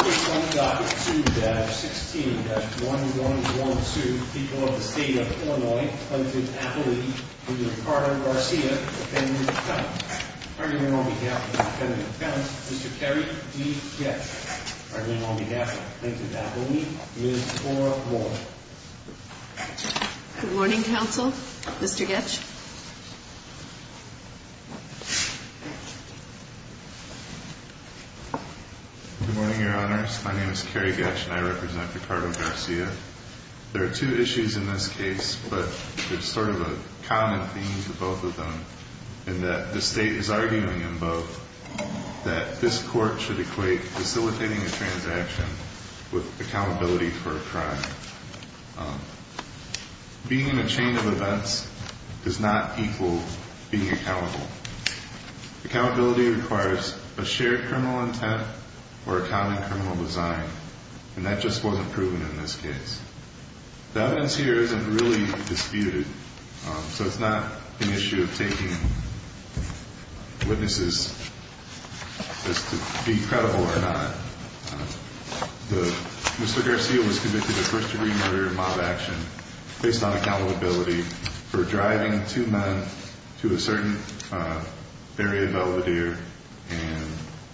16-1112, people of the state of Illinois, Clinton, Appalachia, and Ricardo Garcia, defendants' accounts. Arguing on behalf of the defendant's accounts, Mr. Kerry D. Goetsch. Arguing on behalf of Clinton, Appalachia, Ms. Cora Wall. Good morning, counsel. Mr. Goetsch. Good morning, your honors. My name is Kerry Goetsch, and I represent Ricardo Garcia. There are two issues in this case, but there's sort of a common theme to both of them, in that the state is arguing in both that this court should equate facilitating a transaction with accountability for a crime. Being in a chain of events does not equal being accountable. Accountability requires a shared criminal intent or a common criminal design, and that just wasn't proven in this case. The evidence here isn't really disputed, so it's not an issue of taking witnesses as to be credible or not. Mr. Garcia was convicted of first-degree murder and mob action based on accountability for driving two men to a certain area of Elvedere and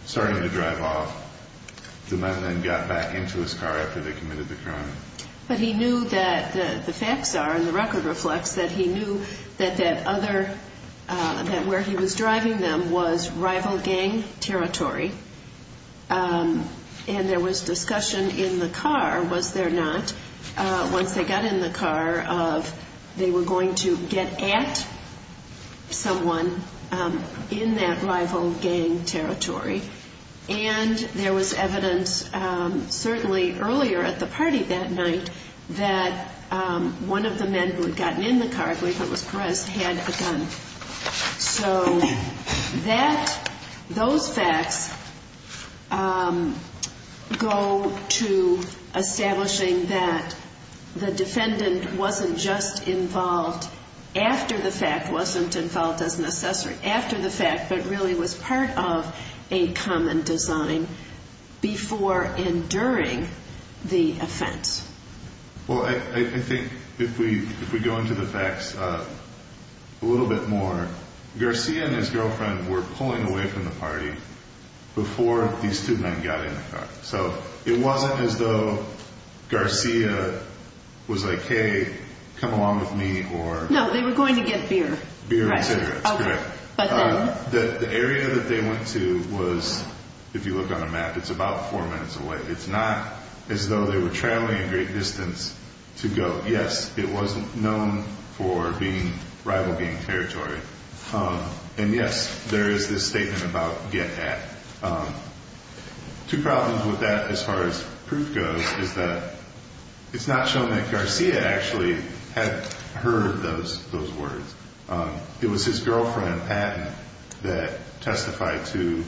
starting to drive off. The men then got back into his car after they committed the crime. But he knew that the facts are, and the record reflects that he knew that that other, that where he was driving them was rival gang territory. And there was discussion in the car, was there not, once they got in the car of they were going to get at someone in that rival gang territory. And there was evidence certainly earlier at the party that night that one of the men who had gotten in the car, I believe it was Perez, had a gun. So that, those facts go to establishing that the defendant wasn't just involved after the fact, wasn't involved as necessary after the fact, but really was part of a common design before and during the offense. Well, I think if we go into the facts a little bit more, Garcia and his girlfriend were pulling away from the party before these two men got in the car. So it wasn't as though Garcia was like, hey, come along with me or... No, they were going to get beer. Beer and cigarettes, correct. Okay, but then... The area that they went to was, if you look on the map, it's about four minutes away. It's not as though they were traveling a great distance to go. Yes, it was known for being rival gang territory. And yes, there is this statement about get at. Two problems with that as far as proof goes is that it's not shown that Garcia actually had heard those words. It was his girlfriend, Patton, that testified to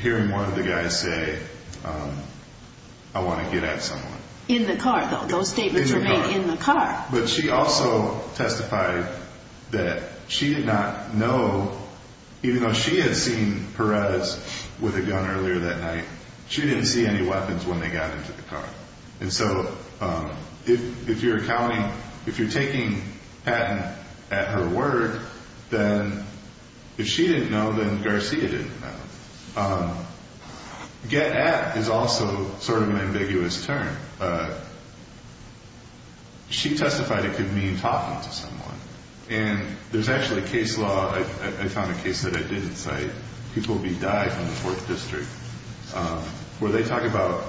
hearing one of the guys say, I want to get at someone. In the car, though. Those statements were made in the car. But she also testified that she did not know, even though she had seen Perez with a gun earlier that night, she didn't see any weapons when they got into the car. And so if you're counting, if you're taking Patton at her word, then if she didn't know, then Garcia didn't know. Get at is also sort of an ambiguous term. She testified it could mean talking to someone. And there's actually a case law, I found a case that I didn't cite. People will be died in the fourth district where they talk about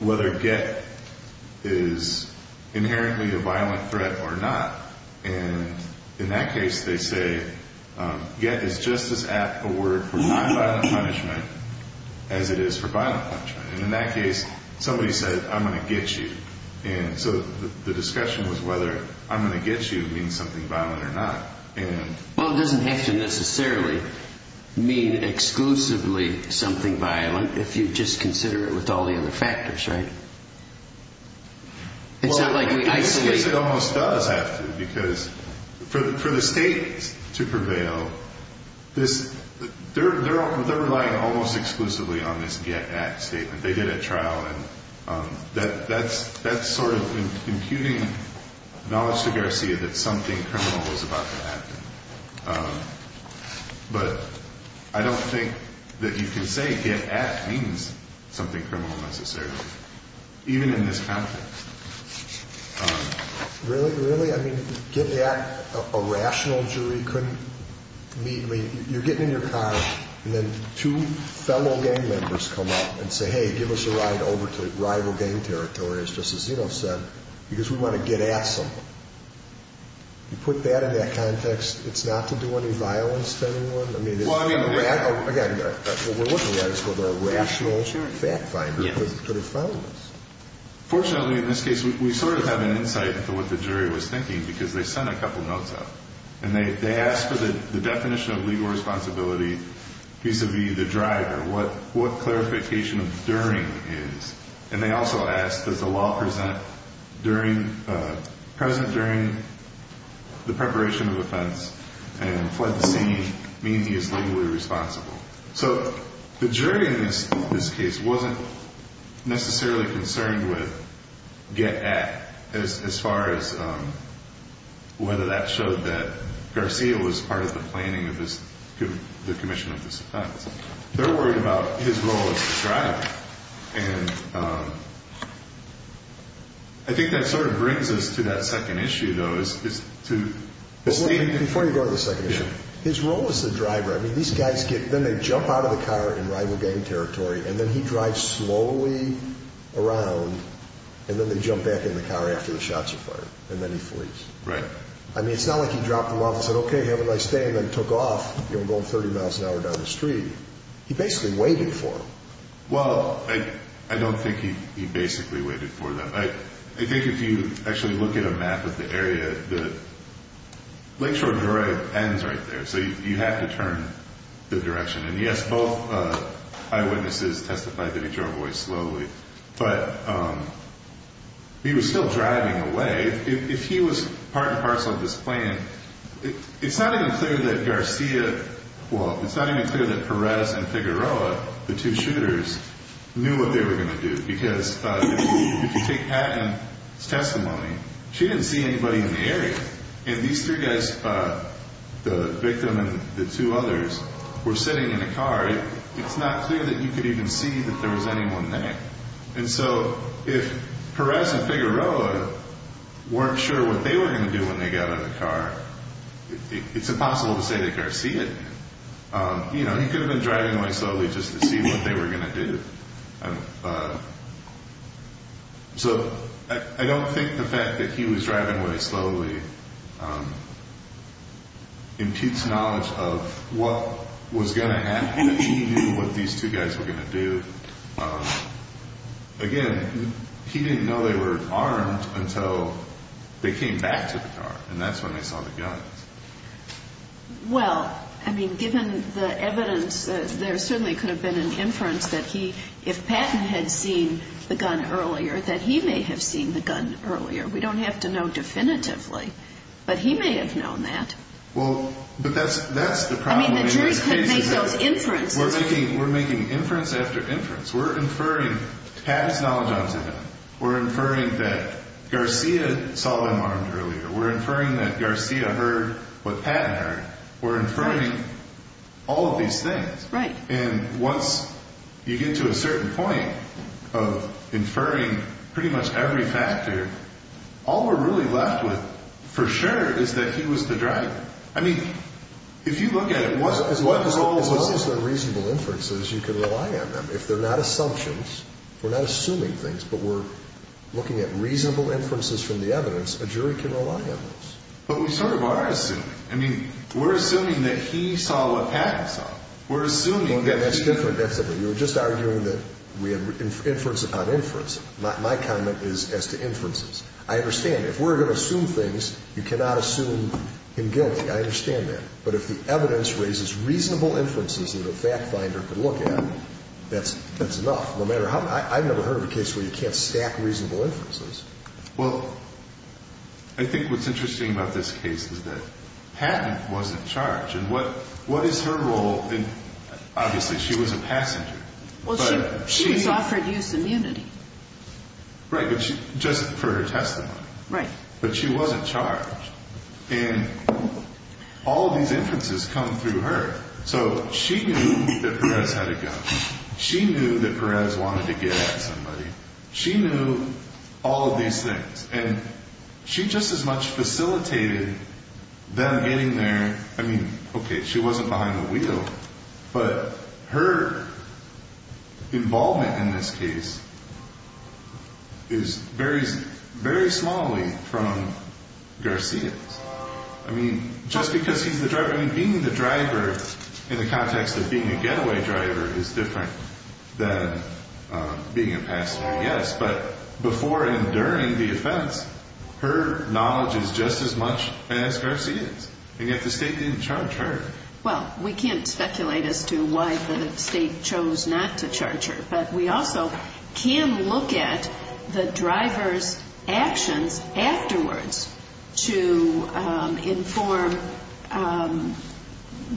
whether get is inherently a violent threat or not. And in that case, they say get is just as apt a word for non-violent punishment as it is for violent punishment. And in that case, somebody said, I'm going to get you. And so the discussion was whether I'm going to get you means something violent or not. Well, it doesn't have to necessarily mean exclusively something violent if you just consider it with all the other factors, right? It's not like we isolate. It almost does have to because for the state to prevail, they're relying almost exclusively on this get at statement. They did a trial. That's sort of imputing knowledge to Garcia that something criminal was about to happen. But I don't think that you can say get at means something criminal necessarily, even in this context. Really, really? I mean, get at, a rational jury couldn't meet. You're getting in your car, and then two fellow gang members come up and say, hey, give us a ride over to rival gang territories, just as Zeno said, because we want to get at something. You put that in that context, it's not to do any violence to anyone. I mean, again, we're looking at it as a rational fact finder. Fortunately, in this case, we sort of have an insight into what the jury was thinking because they sent a couple notes out. And they asked for the definition of legal responsibility vis-a-vis the driver, what clarification of during is. And they also asked, does the law present during the preparation of offense and fled the scene mean he is legally responsible? So the jury in this case wasn't necessarily concerned with get at as far as whether that showed that Garcia was part of the planning of the commission of this offense. They're worried about his role as the driver. And I think that sort of brings us to that second issue, though, is to state. Before you go to the second issue, his role as the driver. I mean, these guys get them. They jump out of the car in rival gang territory, and then he drives slowly around. And then they jump back in the car after the shots are fired. And then he flees. Right. I mean, it's not like he dropped the love and said, OK, have a nice day. And then took off going 30 miles an hour down the street. He basically waited for him. Well, I don't think he basically waited for them. I think if you actually look at a map of the area, the. Right there. So you have to turn the direction. And yes, both eyewitnesses testified that he drove away slowly, but he was still driving away. If he was part and parcel of this plan, it's not even clear that Garcia. Well, it's not even clear that Perez and Figueroa, the two shooters, knew what they were going to do. Because if you take Patton's testimony, she didn't see anybody in the area. And these three guys, the victim and the two others, were sitting in a car. It's not clear that you could even see that there was anyone there. And so if Perez and Figueroa weren't sure what they were going to do when they got out of the car, it's impossible to say that Garcia did. You know, he could have been driving away slowly just to see what they were going to do. And so I don't think the fact that he was driving away slowly impedes knowledge of what was going to happen if he knew what these two guys were going to do. Again, he didn't know they were armed until they came back to the car. And that's when they saw the guns. Well, I mean, given the evidence, there certainly could have been an inference that he, if Patton had seen the gun earlier, that he may have seen the gun earlier. We don't have to know definitively. But he may have known that. Well, but that's the problem. I mean, the jury couldn't make those inferences. We're making inference after inference. We're inferring Patton's knowledge onto them. We're inferring that Garcia saw them armed earlier. We're inferring that Garcia heard what Patton heard. We're inferring all of these things. Right. And once you get to a certain point of inferring pretty much every factor, all we're really left with for sure is that he was the driver. I mean, if you look at it, what role does it play? As long as they're reasonable inferences, you can rely on them. If they're not assumptions, we're not assuming things, but we're looking at reasonable inferences from the evidence, a jury can rely on those. But we sort of are assuming. I mean, we're assuming that he saw what Patton saw. We're assuming that he saw. That's different. You're just arguing that we have inference upon inference. My comment is as to inferences. I understand. If we're going to assume things, you cannot assume him guilty. I understand that. But if the evidence raises reasonable inferences that a fact finder can look at, that's enough. I've never heard of a case where you can't stack reasonable inferences. Well, I think what's interesting about this case is that Patton wasn't charged. And what is her role? Obviously, she was a passenger. Well, she was offered use immunity. Right, but just for her testimony. Right. But she wasn't charged. And all of these inferences come through her. So she knew that Perez had a gun. She knew that Perez wanted to get at somebody. She knew all of these things. And she just as much facilitated them getting there. I mean, okay, she wasn't behind the wheel. But her involvement in this case is very smallly from Garcia's. I mean, just because he's the driver. I mean, being the driver in the context of being a getaway driver is different than being a passenger, yes. But before and during the offense, her knowledge is just as much as Garcia's. And yet the state didn't charge her. Well, we can't speculate as to why the state chose not to charge her. But we also can look at the driver's actions afterwards to inform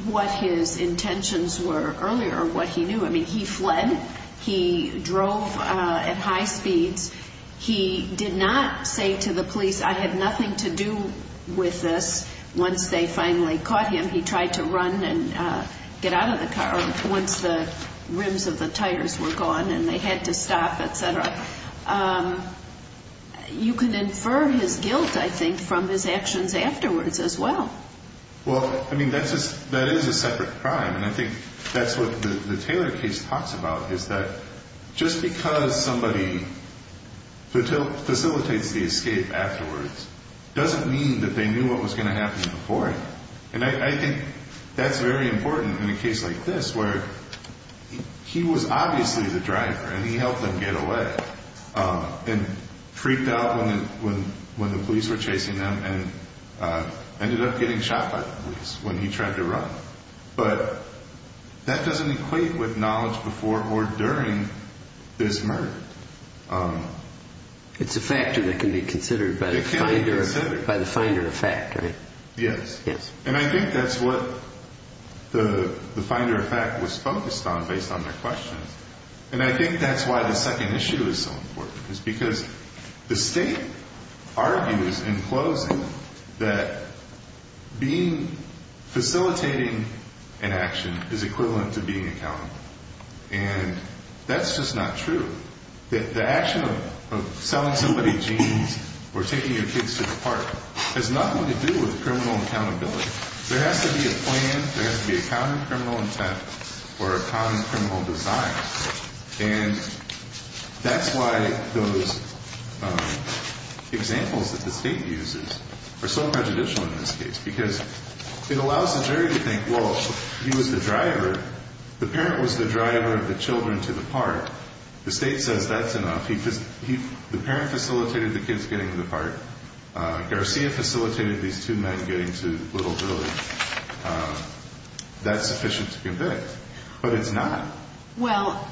what his intentions were earlier or what he knew. I mean, he fled. He drove at high speeds. He did not say to the police, I have nothing to do with this, once they finally caught him. He tried to run and get out of the car once the rims of the tires were gone and they had to stop, et cetera. You can infer his guilt, I think, from his actions afterwards as well. Well, I mean, that is a separate crime. And I think that's what the Taylor case talks about is that just because somebody facilitates the escape afterwards doesn't mean that they knew what was going to happen before it. And I think that's very important in a case like this where he was obviously the driver and he helped him get away and freaked out when the police were chasing him and ended up getting shot by the police when he tried to run. But that doesn't equate with knowledge before or during this murder. It's a factor that can be considered by the finder of fact, right? Yes. And I think that's what the finder of fact was focused on based on their questions. And I think that's why the second issue is so important is because the state argues in closing that facilitating an action is equivalent to being accountable. And that's just not true. The action of selling somebody jeans or taking your kids to the park has nothing to do with criminal accountability. There has to be a plan. There has to be a common criminal intent or a common criminal design. And that's why those examples that the state uses are so prejudicial in this case because it allows the jury to think, well, he was the driver. The state says that's enough. The parent facilitated the kids getting to the park. Garcia facilitated these two men getting to Little Village. That's sufficient to convict. But it's not. Well,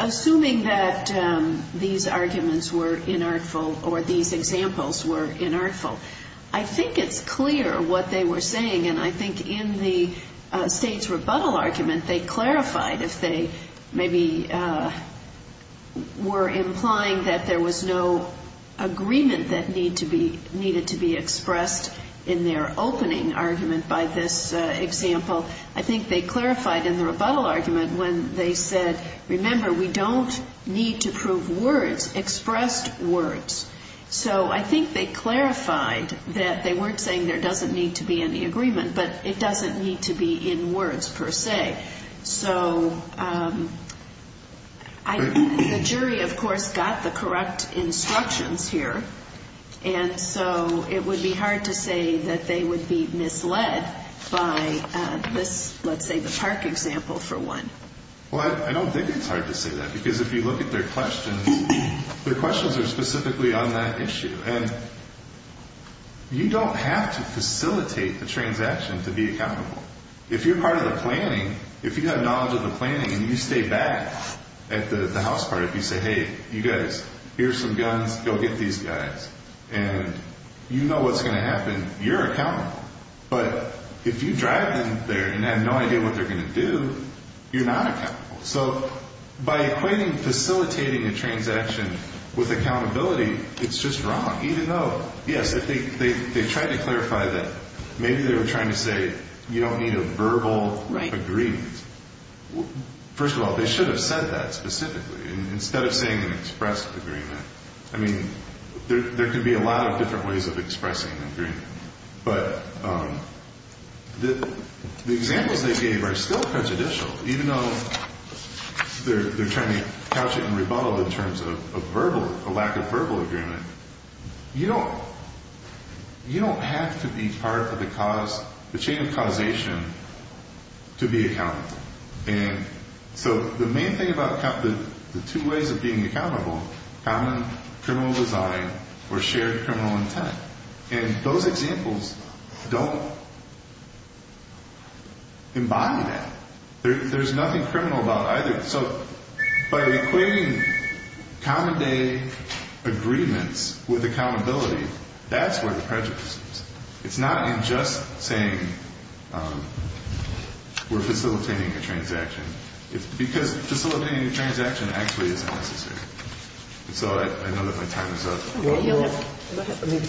assuming that these arguments were inartful or these examples were inartful, I think it's clear what they were saying. And I think in the state's rebuttal argument they clarified if they maybe were implying that there was no agreement that needed to be expressed in their opening argument by this example. I think they clarified in the rebuttal argument when they said, remember, we don't need to prove words, expressed words. So I think they clarified that they weren't saying there doesn't need to be any agreement, but it doesn't need to be in words per se. So the jury, of course, got the correct instructions here. And so it would be hard to say that they would be misled by this, let's say, the park example, for one. Well, I don't think it's hard to say that because if you look at their questions, their questions are specifically on that issue. And you don't have to facilitate the transaction to be accountable. If you're part of the planning, if you have knowledge of the planning and you stay back at the house part, if you say, hey, you guys, here's some guns, go get these guys, and you know what's going to happen, you're accountable. But if you drive in there and have no idea what they're going to do, you're not accountable. So by equating facilitating a transaction with accountability, it's just wrong, even though, yes, they tried to clarify that maybe they were trying to say you don't need a verbal agreement. First of all, they should have said that specifically instead of saying an expressed agreement. I mean, there could be a lot of different ways of expressing an agreement. But the examples they gave are still prejudicial, even though they're trying to couch it and rebuttal in terms of a lack of verbal agreement. You don't have to be part of the chain of causation to be accountable. And so the main thing about the two ways of being accountable, common criminal design or shared criminal intent, and those examples don't embody that. There's nothing criminal about either. So by equating common day agreements with accountability, that's where the prejudice is. It's not in just saying we're facilitating a transaction. It's because facilitating a transaction actually isn't necessary. So I know that my time is up. Well, I mean,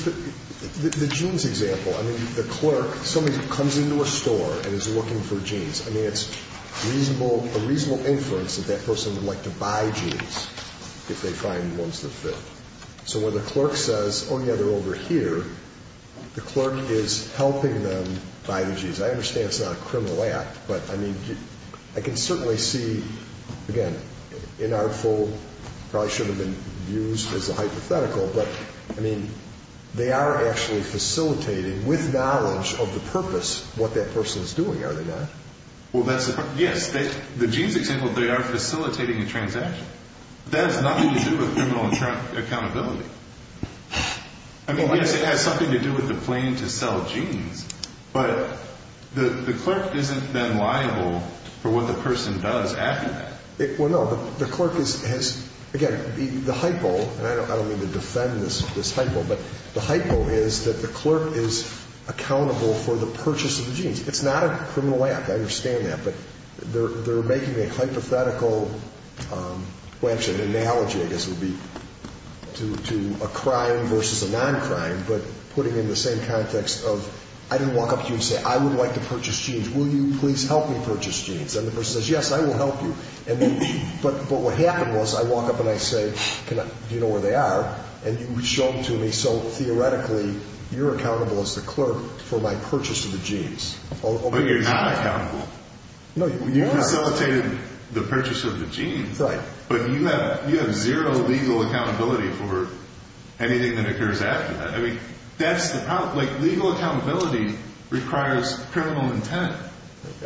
the jeans example, I mean, the clerk, somebody comes into a store and is looking for jeans. I mean, it's reasonable, a reasonable inference that that person would like to buy jeans if they find ones that fit. So when the clerk says, oh, yeah, they're over here, the clerk is helping them buy the jeans. I understand it's not a criminal act, but, I mean, I can certainly see, again, inartful, probably shouldn't have been used as a hypothetical, but, I mean, they are actually facilitating with knowledge of the purpose what that person is doing, are they not? Well, yes, the jeans example, they are facilitating a transaction. That has nothing to do with criminal accountability. I mean, yes, it has something to do with the plan to sell jeans, but the clerk isn't then liable for what the person does after that. Well, no, the clerk has, again, the hypo, and I don't mean to defend this hypo, but the hypo is that the clerk is accountable for the purchase of the jeans. It's not a criminal act. I understand that, but they're making a hypothetical, well, actually, an analogy, I guess it would be, to a crime versus a non-crime, but putting it in the same context of I didn't walk up to you and say, I would like to purchase jeans, will you please help me purchase jeans? And the person says, yes, I will help you. But what happened was I walk up and I say, do you know where they are? And you show them to me, so theoretically, you're accountable as the clerk for my purchase of the jeans. But you're not accountable. No, you are. You facilitated the purchase of the jeans. Right. But you have zero legal accountability for anything that occurs after that. I mean, that's the problem. Legal accountability requires criminal intent.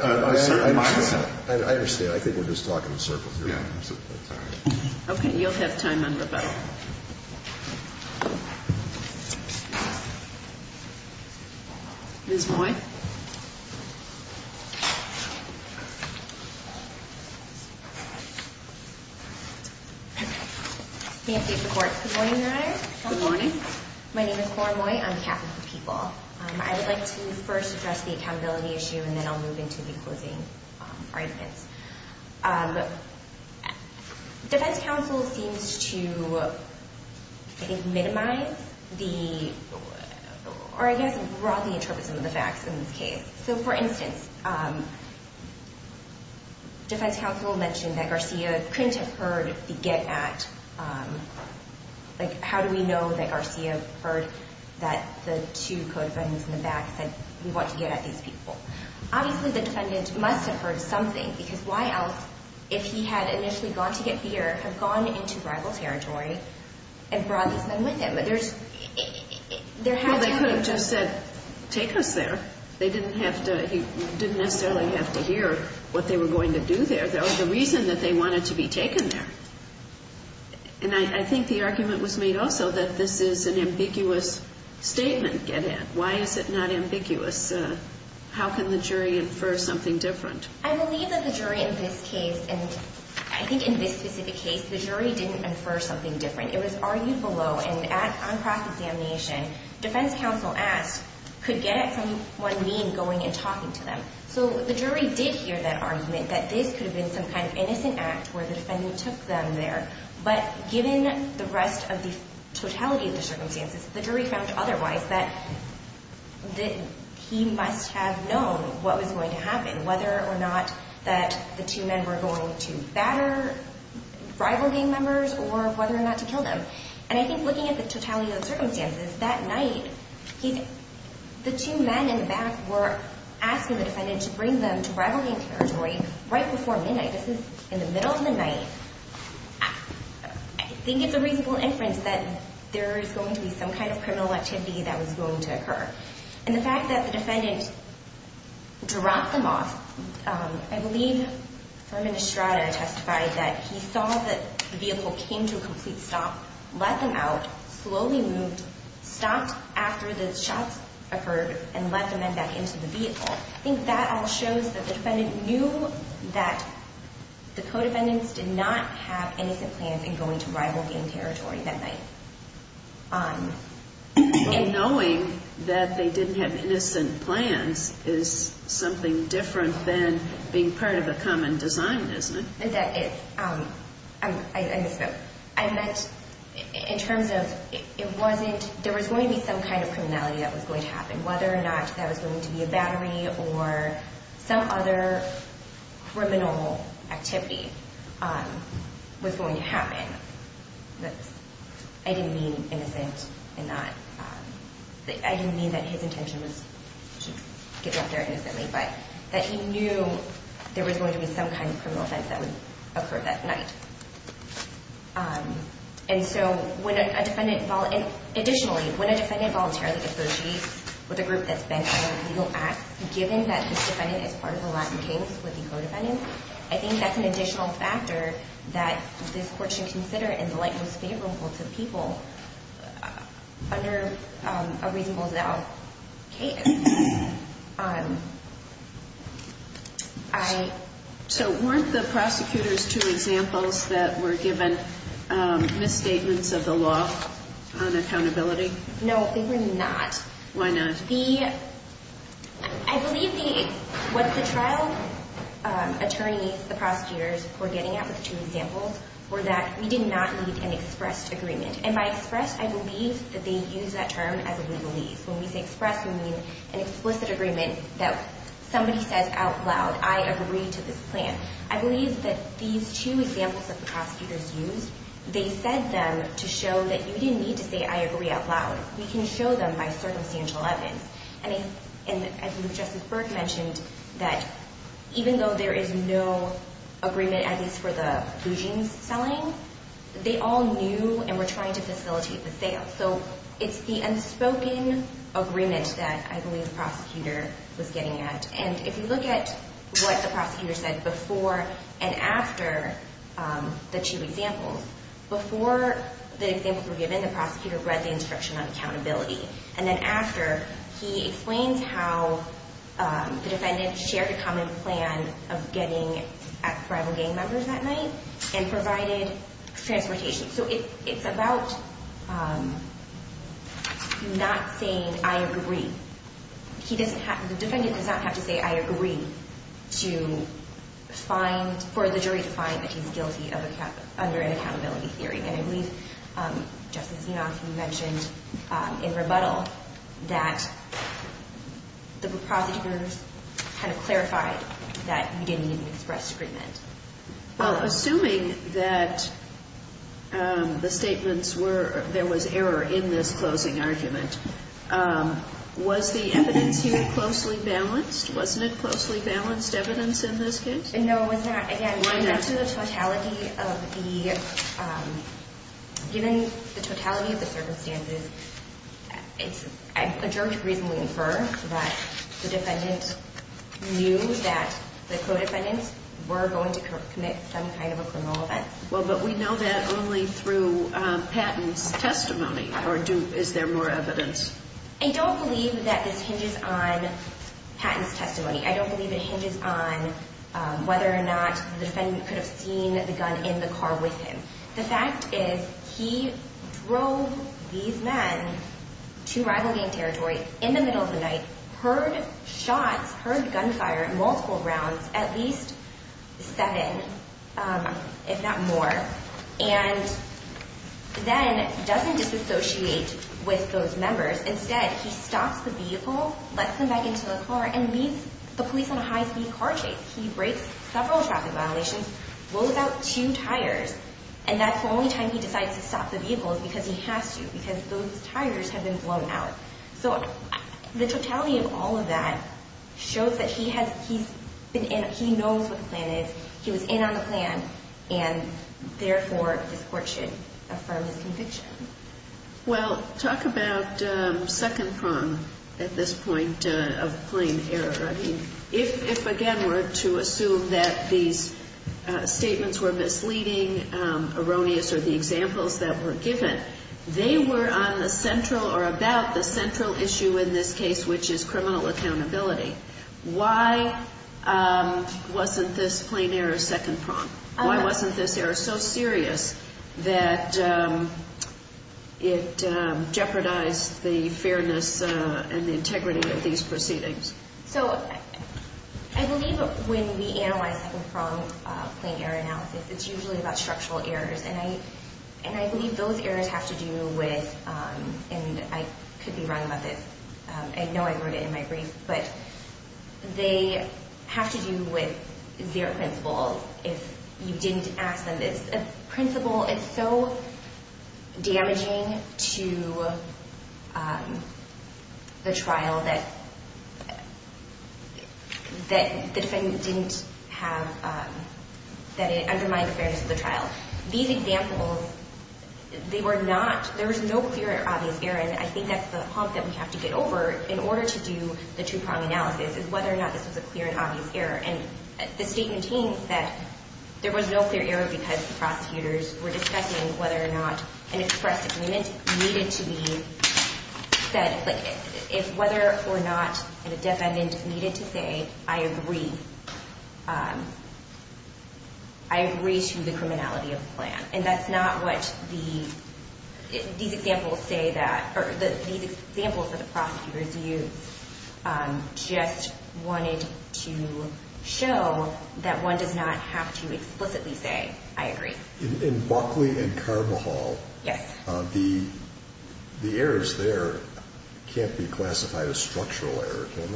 I understand. I think we're just talking in circles here. Okay. You'll have time on the phone. Ms. Moy? Good morning, Your Honor. Good morning. My name is Cora Moy. I'm captain for people. I would like to first address the accountability issue, and then I'll move into the closing arguments. Defense counsel seems to, I think, minimize the, or I guess broadly interpret some of the facts in this case. So, for instance, defense counsel mentioned that Garcia couldn't have heard the get at, like, how do we know that Garcia heard that the two co-defendants in the back said, we want to get at these people? Obviously, the defendant must have heard something, because why else, if he had initially gone to get beer, have gone into rival territory and brought these men with him? But there's, there has to have been. Well, they could have just said, take us there. They didn't have to, he didn't necessarily have to hear what they were going to do there. Or the reason that they wanted to be taken there. And I think the argument was made also that this is an ambiguous statement, get at. Why is it not ambiguous? How can the jury infer something different? I believe that the jury in this case, and I think in this specific case, the jury didn't infer something different. It was argued below, and on cross-examination, defense counsel asked, could get at someone mean going and talking to them? So the jury did hear that argument, that this could have been some kind of innocent act, where the defendant took them there. But given the rest of the totality of the circumstances, the jury found otherwise, that he must have known what was going to happen, whether or not that the two men were going to batter rival gang members, or whether or not to kill them. And I think looking at the totality of the circumstances, that night, the two men in the back were asking the defendant to bring them to rival gang territory right before midnight. This is in the middle of the night. I think it's a reasonable inference that there is going to be some kind of criminal activity that was going to occur. And the fact that the defendant dropped them off, I believe Herman Estrada testified that he saw that the vehicle came to a complete stop, let them out, slowly moved, stopped after the shots occurred, and let the men back into the vehicle. I think that all shows that the defendant knew that the co-defendants did not have innocent plans in going to rival gang territory that night. Well, knowing that they didn't have innocent plans is something different than being part of a common design, isn't it? That is. I misspoke. I meant in terms of there was going to be some kind of criminality that was going to happen, whether or not that was going to be a battery or some other criminal activity was going to happen. I didn't mean innocent in that. I didn't mean that his intention was to get out there innocently, but that he knew there was going to be some kind of criminal offense that would occur that night. Additionally, when a defendant voluntarily associates with a group that's bent on a legal act, given that this defendant is part of the Latin Kings with the co-defendants, I think that's an additional factor that this Court should consider in the light most favorable to the people under a reasonable now case. So weren't the prosecutors two examples that were given misstatements of the law on accountability? No, they were not. Why not? I believe what the trial attorneys, the prosecutors, were getting at with two examples were that we did not need an expressed agreement. And by expressed, I believe that they used that term as a legalese. When we say expressed, we mean an explicit agreement that somebody says out loud, I agree to this plan. I believe that these two examples that the prosecutors used, they said them to show that you didn't need to say I agree out loud. We can show them by circumstantial evidence. I believe Justice Berg mentioned that even though there is no agreement, at least for the blue jeans selling, they all knew and were trying to facilitate the sale. So it's the unspoken agreement that I believe the prosecutor was getting at. And if you look at what the prosecutor said before and after the two examples, before the examples were given, the prosecutor read the instruction on accountability. And then after, he explains how the defendant shared a common plan of getting ex-rival gang members that night and provided transportation. So it's about not saying I agree. The defendant does not have to say I agree for the jury to find that he's guilty under an accountability theory. And I believe Justice Enoff mentioned in rebuttal that the prosecutors kind of clarified that you didn't need an expressed agreement. Well, assuming that the statements were, there was error in this closing argument, was the evidence here closely balanced? Wasn't it closely balanced evidence in this case? No, it was not. Again, given the totality of the circumstances, it's adjourned to reasonably infer that the defendant knew that the co-defendants were going to commit some kind of a criminal offense. Well, but we know that only through Patton's testimony. Or is there more evidence? I don't believe it hinges on whether or not the defendant could have seen the gun in the car with him. The fact is he drove these men to rival gang territory in the middle of the night, heard shots, heard gunfire, multiple rounds, at least seven, if not more, and then doesn't disassociate with those members. Instead, he stops the vehicle, lets them back into the car, and leaves the police on a high-speed car chase. He breaks several traffic violations, blows out two tires, and that's the only time he decides to stop the vehicle is because he has to, because those tires have been blown out. So the totality of all of that shows that he knows what the plan is, he was in on the plan, and therefore this court should affirm his conviction. Well, talk about second prong at this point of plain error. I mean, if, again, we're to assume that these statements were misleading, erroneous, or the examples that were given, they were on the central or about the central issue in this case, which is criminal accountability. Why wasn't this plain error second prong? Why wasn't this error so serious that it jeopardized the fairness and the integrity of these proceedings? So I believe when we analyze second prong plain error analysis, it's usually about structural errors, and I believe those errors have to do with, and I could be wrong about this, I know I wrote it in my brief, but they have to do with zero principles if you didn't ask them this. A principle is so damaging to the trial that the defendant didn't have, that it undermined the fairness of the trial. These examples, they were not, there was no clear or obvious error, and I think that's the hump that we have to get over in order to do the true prong analysis, is whether or not this was a clear and obvious error. And the statement teems that there was no clear error because the prosecutors were discussing whether or not an express agreement needed to be said. If whether or not the defendant needed to say, I agree, I agree to the criminality of the plan. And that's not what the, these examples say that, or these examples that the prosecutors used just wanted to show that one does not have to explicitly say, I agree. In Buckley and Carvajal, the errors there can't be classified as structural error, can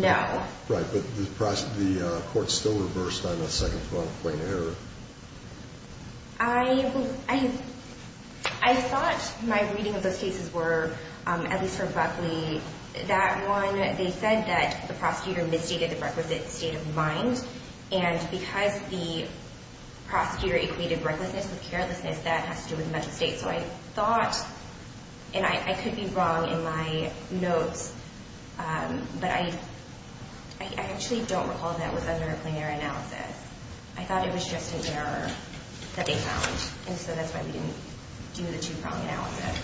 they? No. Right, but the court still reversed on the second point of error. I thought my reading of those cases were, at least for Buckley, that one, they said that the prosecutor misstated the requisite state of mind, and because the prosecutor equated recklessness with carelessness, that has to do with mental state. So I thought, and I could be wrong in my notes, but I actually don't recall that it was under a plenary analysis. I thought it was just an error that they found, and so that's why we didn't do the two-prong analysis.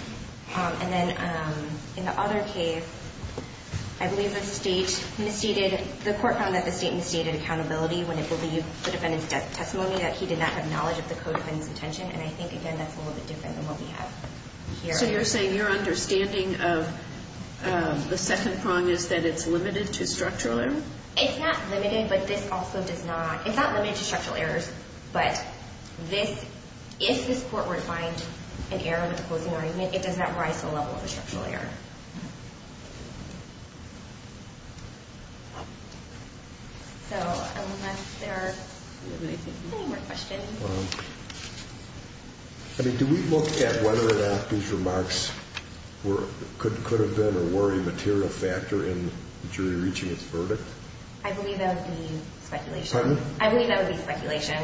And then in the other case, I believe that the state misstated, the court found that the state misstated accountability when it believed the defendant's testimony, that he did not have knowledge of the Code of Defendant's Intention, and I think, again, that's a little bit different than what we have here. So you're saying your understanding of the second prong is that it's limited to structural error? It's not limited, but this also does not, it's not limited to structural errors, but if this court were to find an error in the closing argument, it does not rise to the level of a structural error. So unless there are any more questions. I mean, do we look at whether or not these remarks could have been or were a material factor in the jury reaching its verdict? I believe that would be speculation. Pardon? I believe that would be speculation.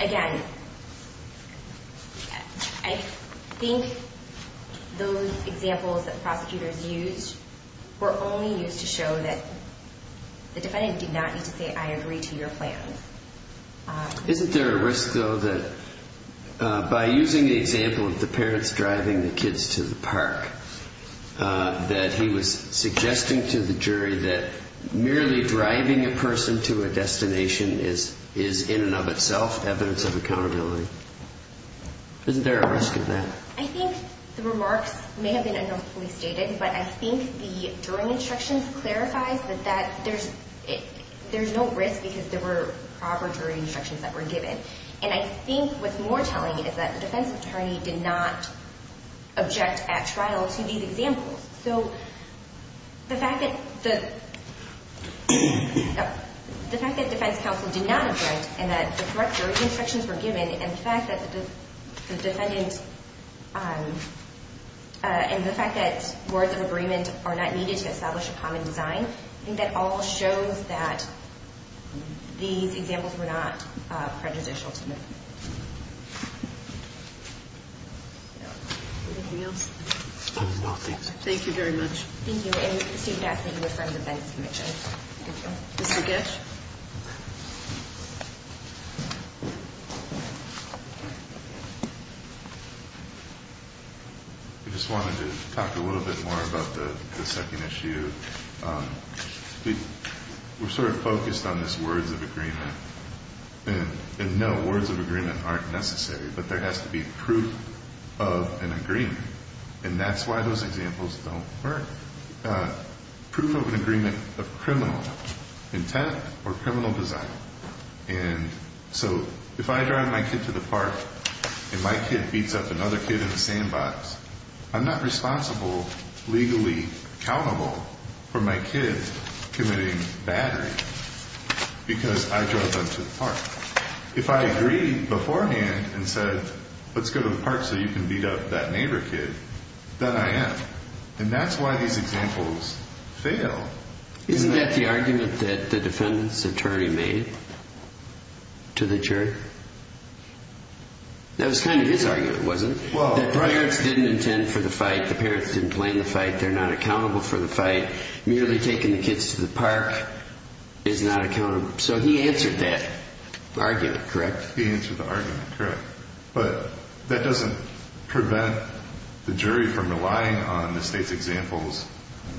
Again, I think those examples that prosecutors used were only used to show that the defendant did not need to say, I agree to your plan. Isn't there a risk, though, that by using the example of the parents driving the kids to the park, that he was suggesting to the jury that merely driving a person to a destination is in and of itself evidence of accountability? Isn't there a risk of that? I think the remarks may have been unlawfully stated, but I think the jury instructions clarifies that there's no risk because there were proper jury instructions that were given. And I think what's more telling is that the defense attorney did not object at trial to these examples. So the fact that defense counsel did not object and that the correct jury instructions were given and the fact that the defendant and the fact that words of agreement are not needed to establish a common design, I think that all shows that these examples were not prejudicial to them. Anything else? No, thank you. Thank you very much. Thank you. And Stephen, I think you were from the defense commission. Thank you. Mr. Getsch? I just wanted to talk a little bit more about the second issue. We're sort of focused on this words of agreement. And, no, words of agreement aren't necessary, but there has to be proof of an agreement, and that's why those examples don't work. Proof of an agreement of criminal intent or criminal design. And so if I drive my kid to the park and my kid beats up another kid in the sandbox, I'm not responsible, legally accountable, for my kid committing battery because I drove them to the park. If I agreed beforehand and said, let's go to the park so you can beat up that neighbor kid, then I am. And that's why these examples fail. Isn't that the argument that the defendant's attorney made to the jury? That was kind of his argument, wasn't it? That the parents didn't intend for the fight, the parents didn't plan the fight, they're not accountable for the fight. Merely taking the kids to the park is not accountable. So he answered that argument, correct? He answered the argument, correct. But that doesn't prevent the jury from relying on the State's examples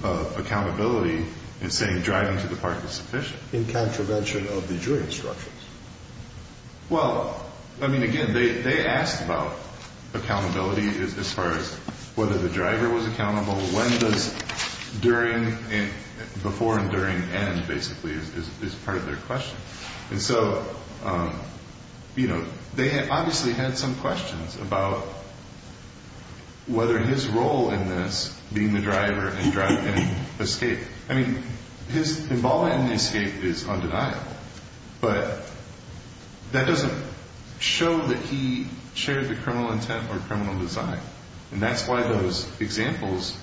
of accountability in saying driving to the park is sufficient. In contravention of the jury instructions. Well, I mean, again, they asked about accountability as far as whether the driver was accountable, when does before and during end, basically, is part of their question. And so, you know, they obviously had some questions about whether his role in this, being the driver and driving, escaped. I mean, his involvement in the escape is undeniable. But that doesn't show that he shared the criminal intent or criminal design. And that's why those examples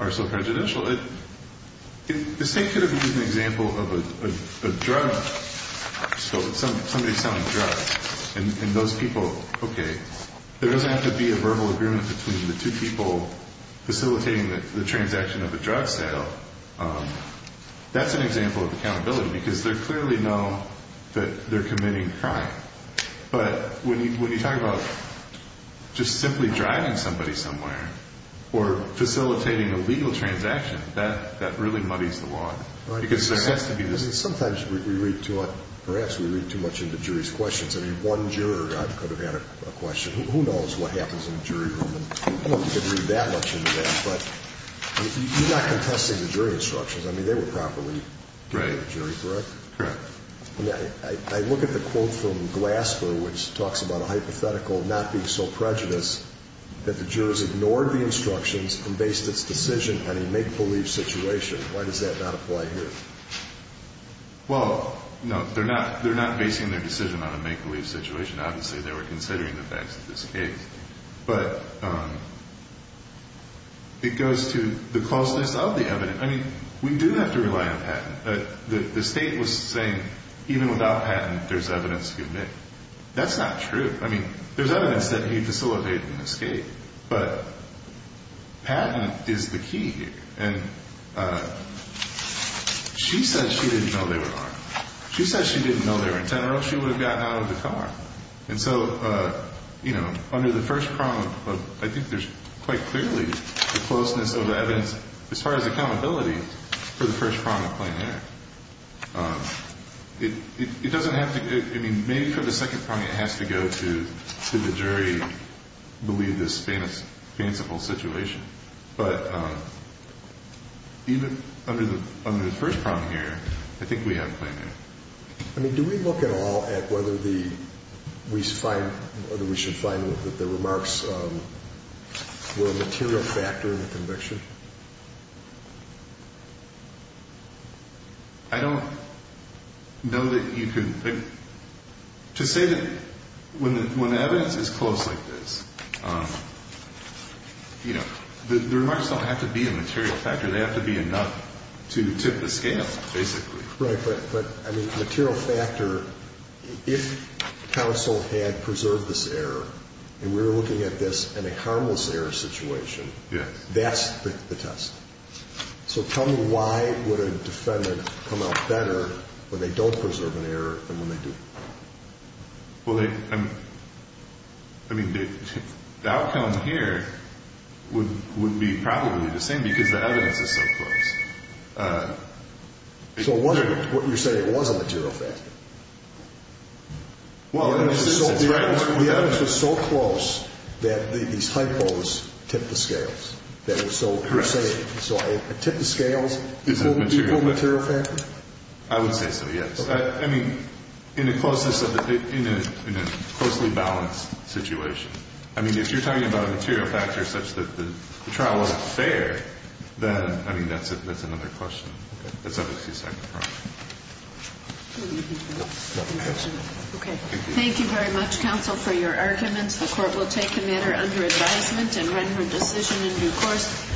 are so prejudicial. This thing could have been an example of a drug, somebody selling drugs, and those people, okay, there doesn't have to be a verbal agreement between the two people facilitating the transaction of a drug sale. That's an example of accountability, because they clearly know that they're committing a crime. But when you talk about just simply driving somebody somewhere or facilitating a legal transaction, that really muddies the water. Because there has to be this. Sometimes we read too much into jury's questions. I mean, one juror could have had a question. Who knows what happens in a jury room? You don't get to read that much into that. But you're not contesting the jury instructions. I mean, they were properly given to the jury, correct? Correct. I look at the quote from Glasper, which talks about a hypothetical not being so prejudiced, that the jurors ignored the instructions and based its decision on a make-believe situation. Why does that not apply here? Well, no, they're not basing their decision on a make-believe situation. Obviously, they were considering the facts of this case. But it goes to the closeness of the evidence. I mean, we do have to rely on patent. The state was saying even without patent, there's evidence to admit. That's not true. I mean, there's evidence that he facilitated an escape. But patent is the key here. And she said she didn't know they were armed. She said she didn't know they were in general. She would have gotten out of the car. And so, you know, under the first prong of, I think there's quite clearly the closeness of the evidence, as far as accountability for the first prong of plain error. It doesn't have to be. I mean, maybe for the second prong, it has to go to the jury believe this fanciful situation. But even under the first prong here, I think we have plain error. I mean, do we look at all at whether we should find that the remarks were a material factor in the conviction? I don't know that you can. To say that when the evidence is close like this, you know, the remarks don't have to be a material factor. They have to be enough to tip the scale, basically. Right. But, I mean, material factor, if counsel had preserved this error, and we were looking at this in a harmless error situation, that's the test. So tell me why would a defendant come out better when they don't preserve an error than when they do? Well, I mean, the outcome here would be probably the same because the evidence is so close. So you're saying it was a material factor? Well, the evidence was so close that these hypos tipped the scales. Correct. So a tip of scales is an equal material factor? I would say so, yes. I mean, in a closely balanced situation. I mean, if you're talking about a material factor such that the trial wasn't fair, then, I mean, that's another question. Okay. Thank you very much, counsel, for your arguments. The Court will take the matter under advisement and run her decision in due course.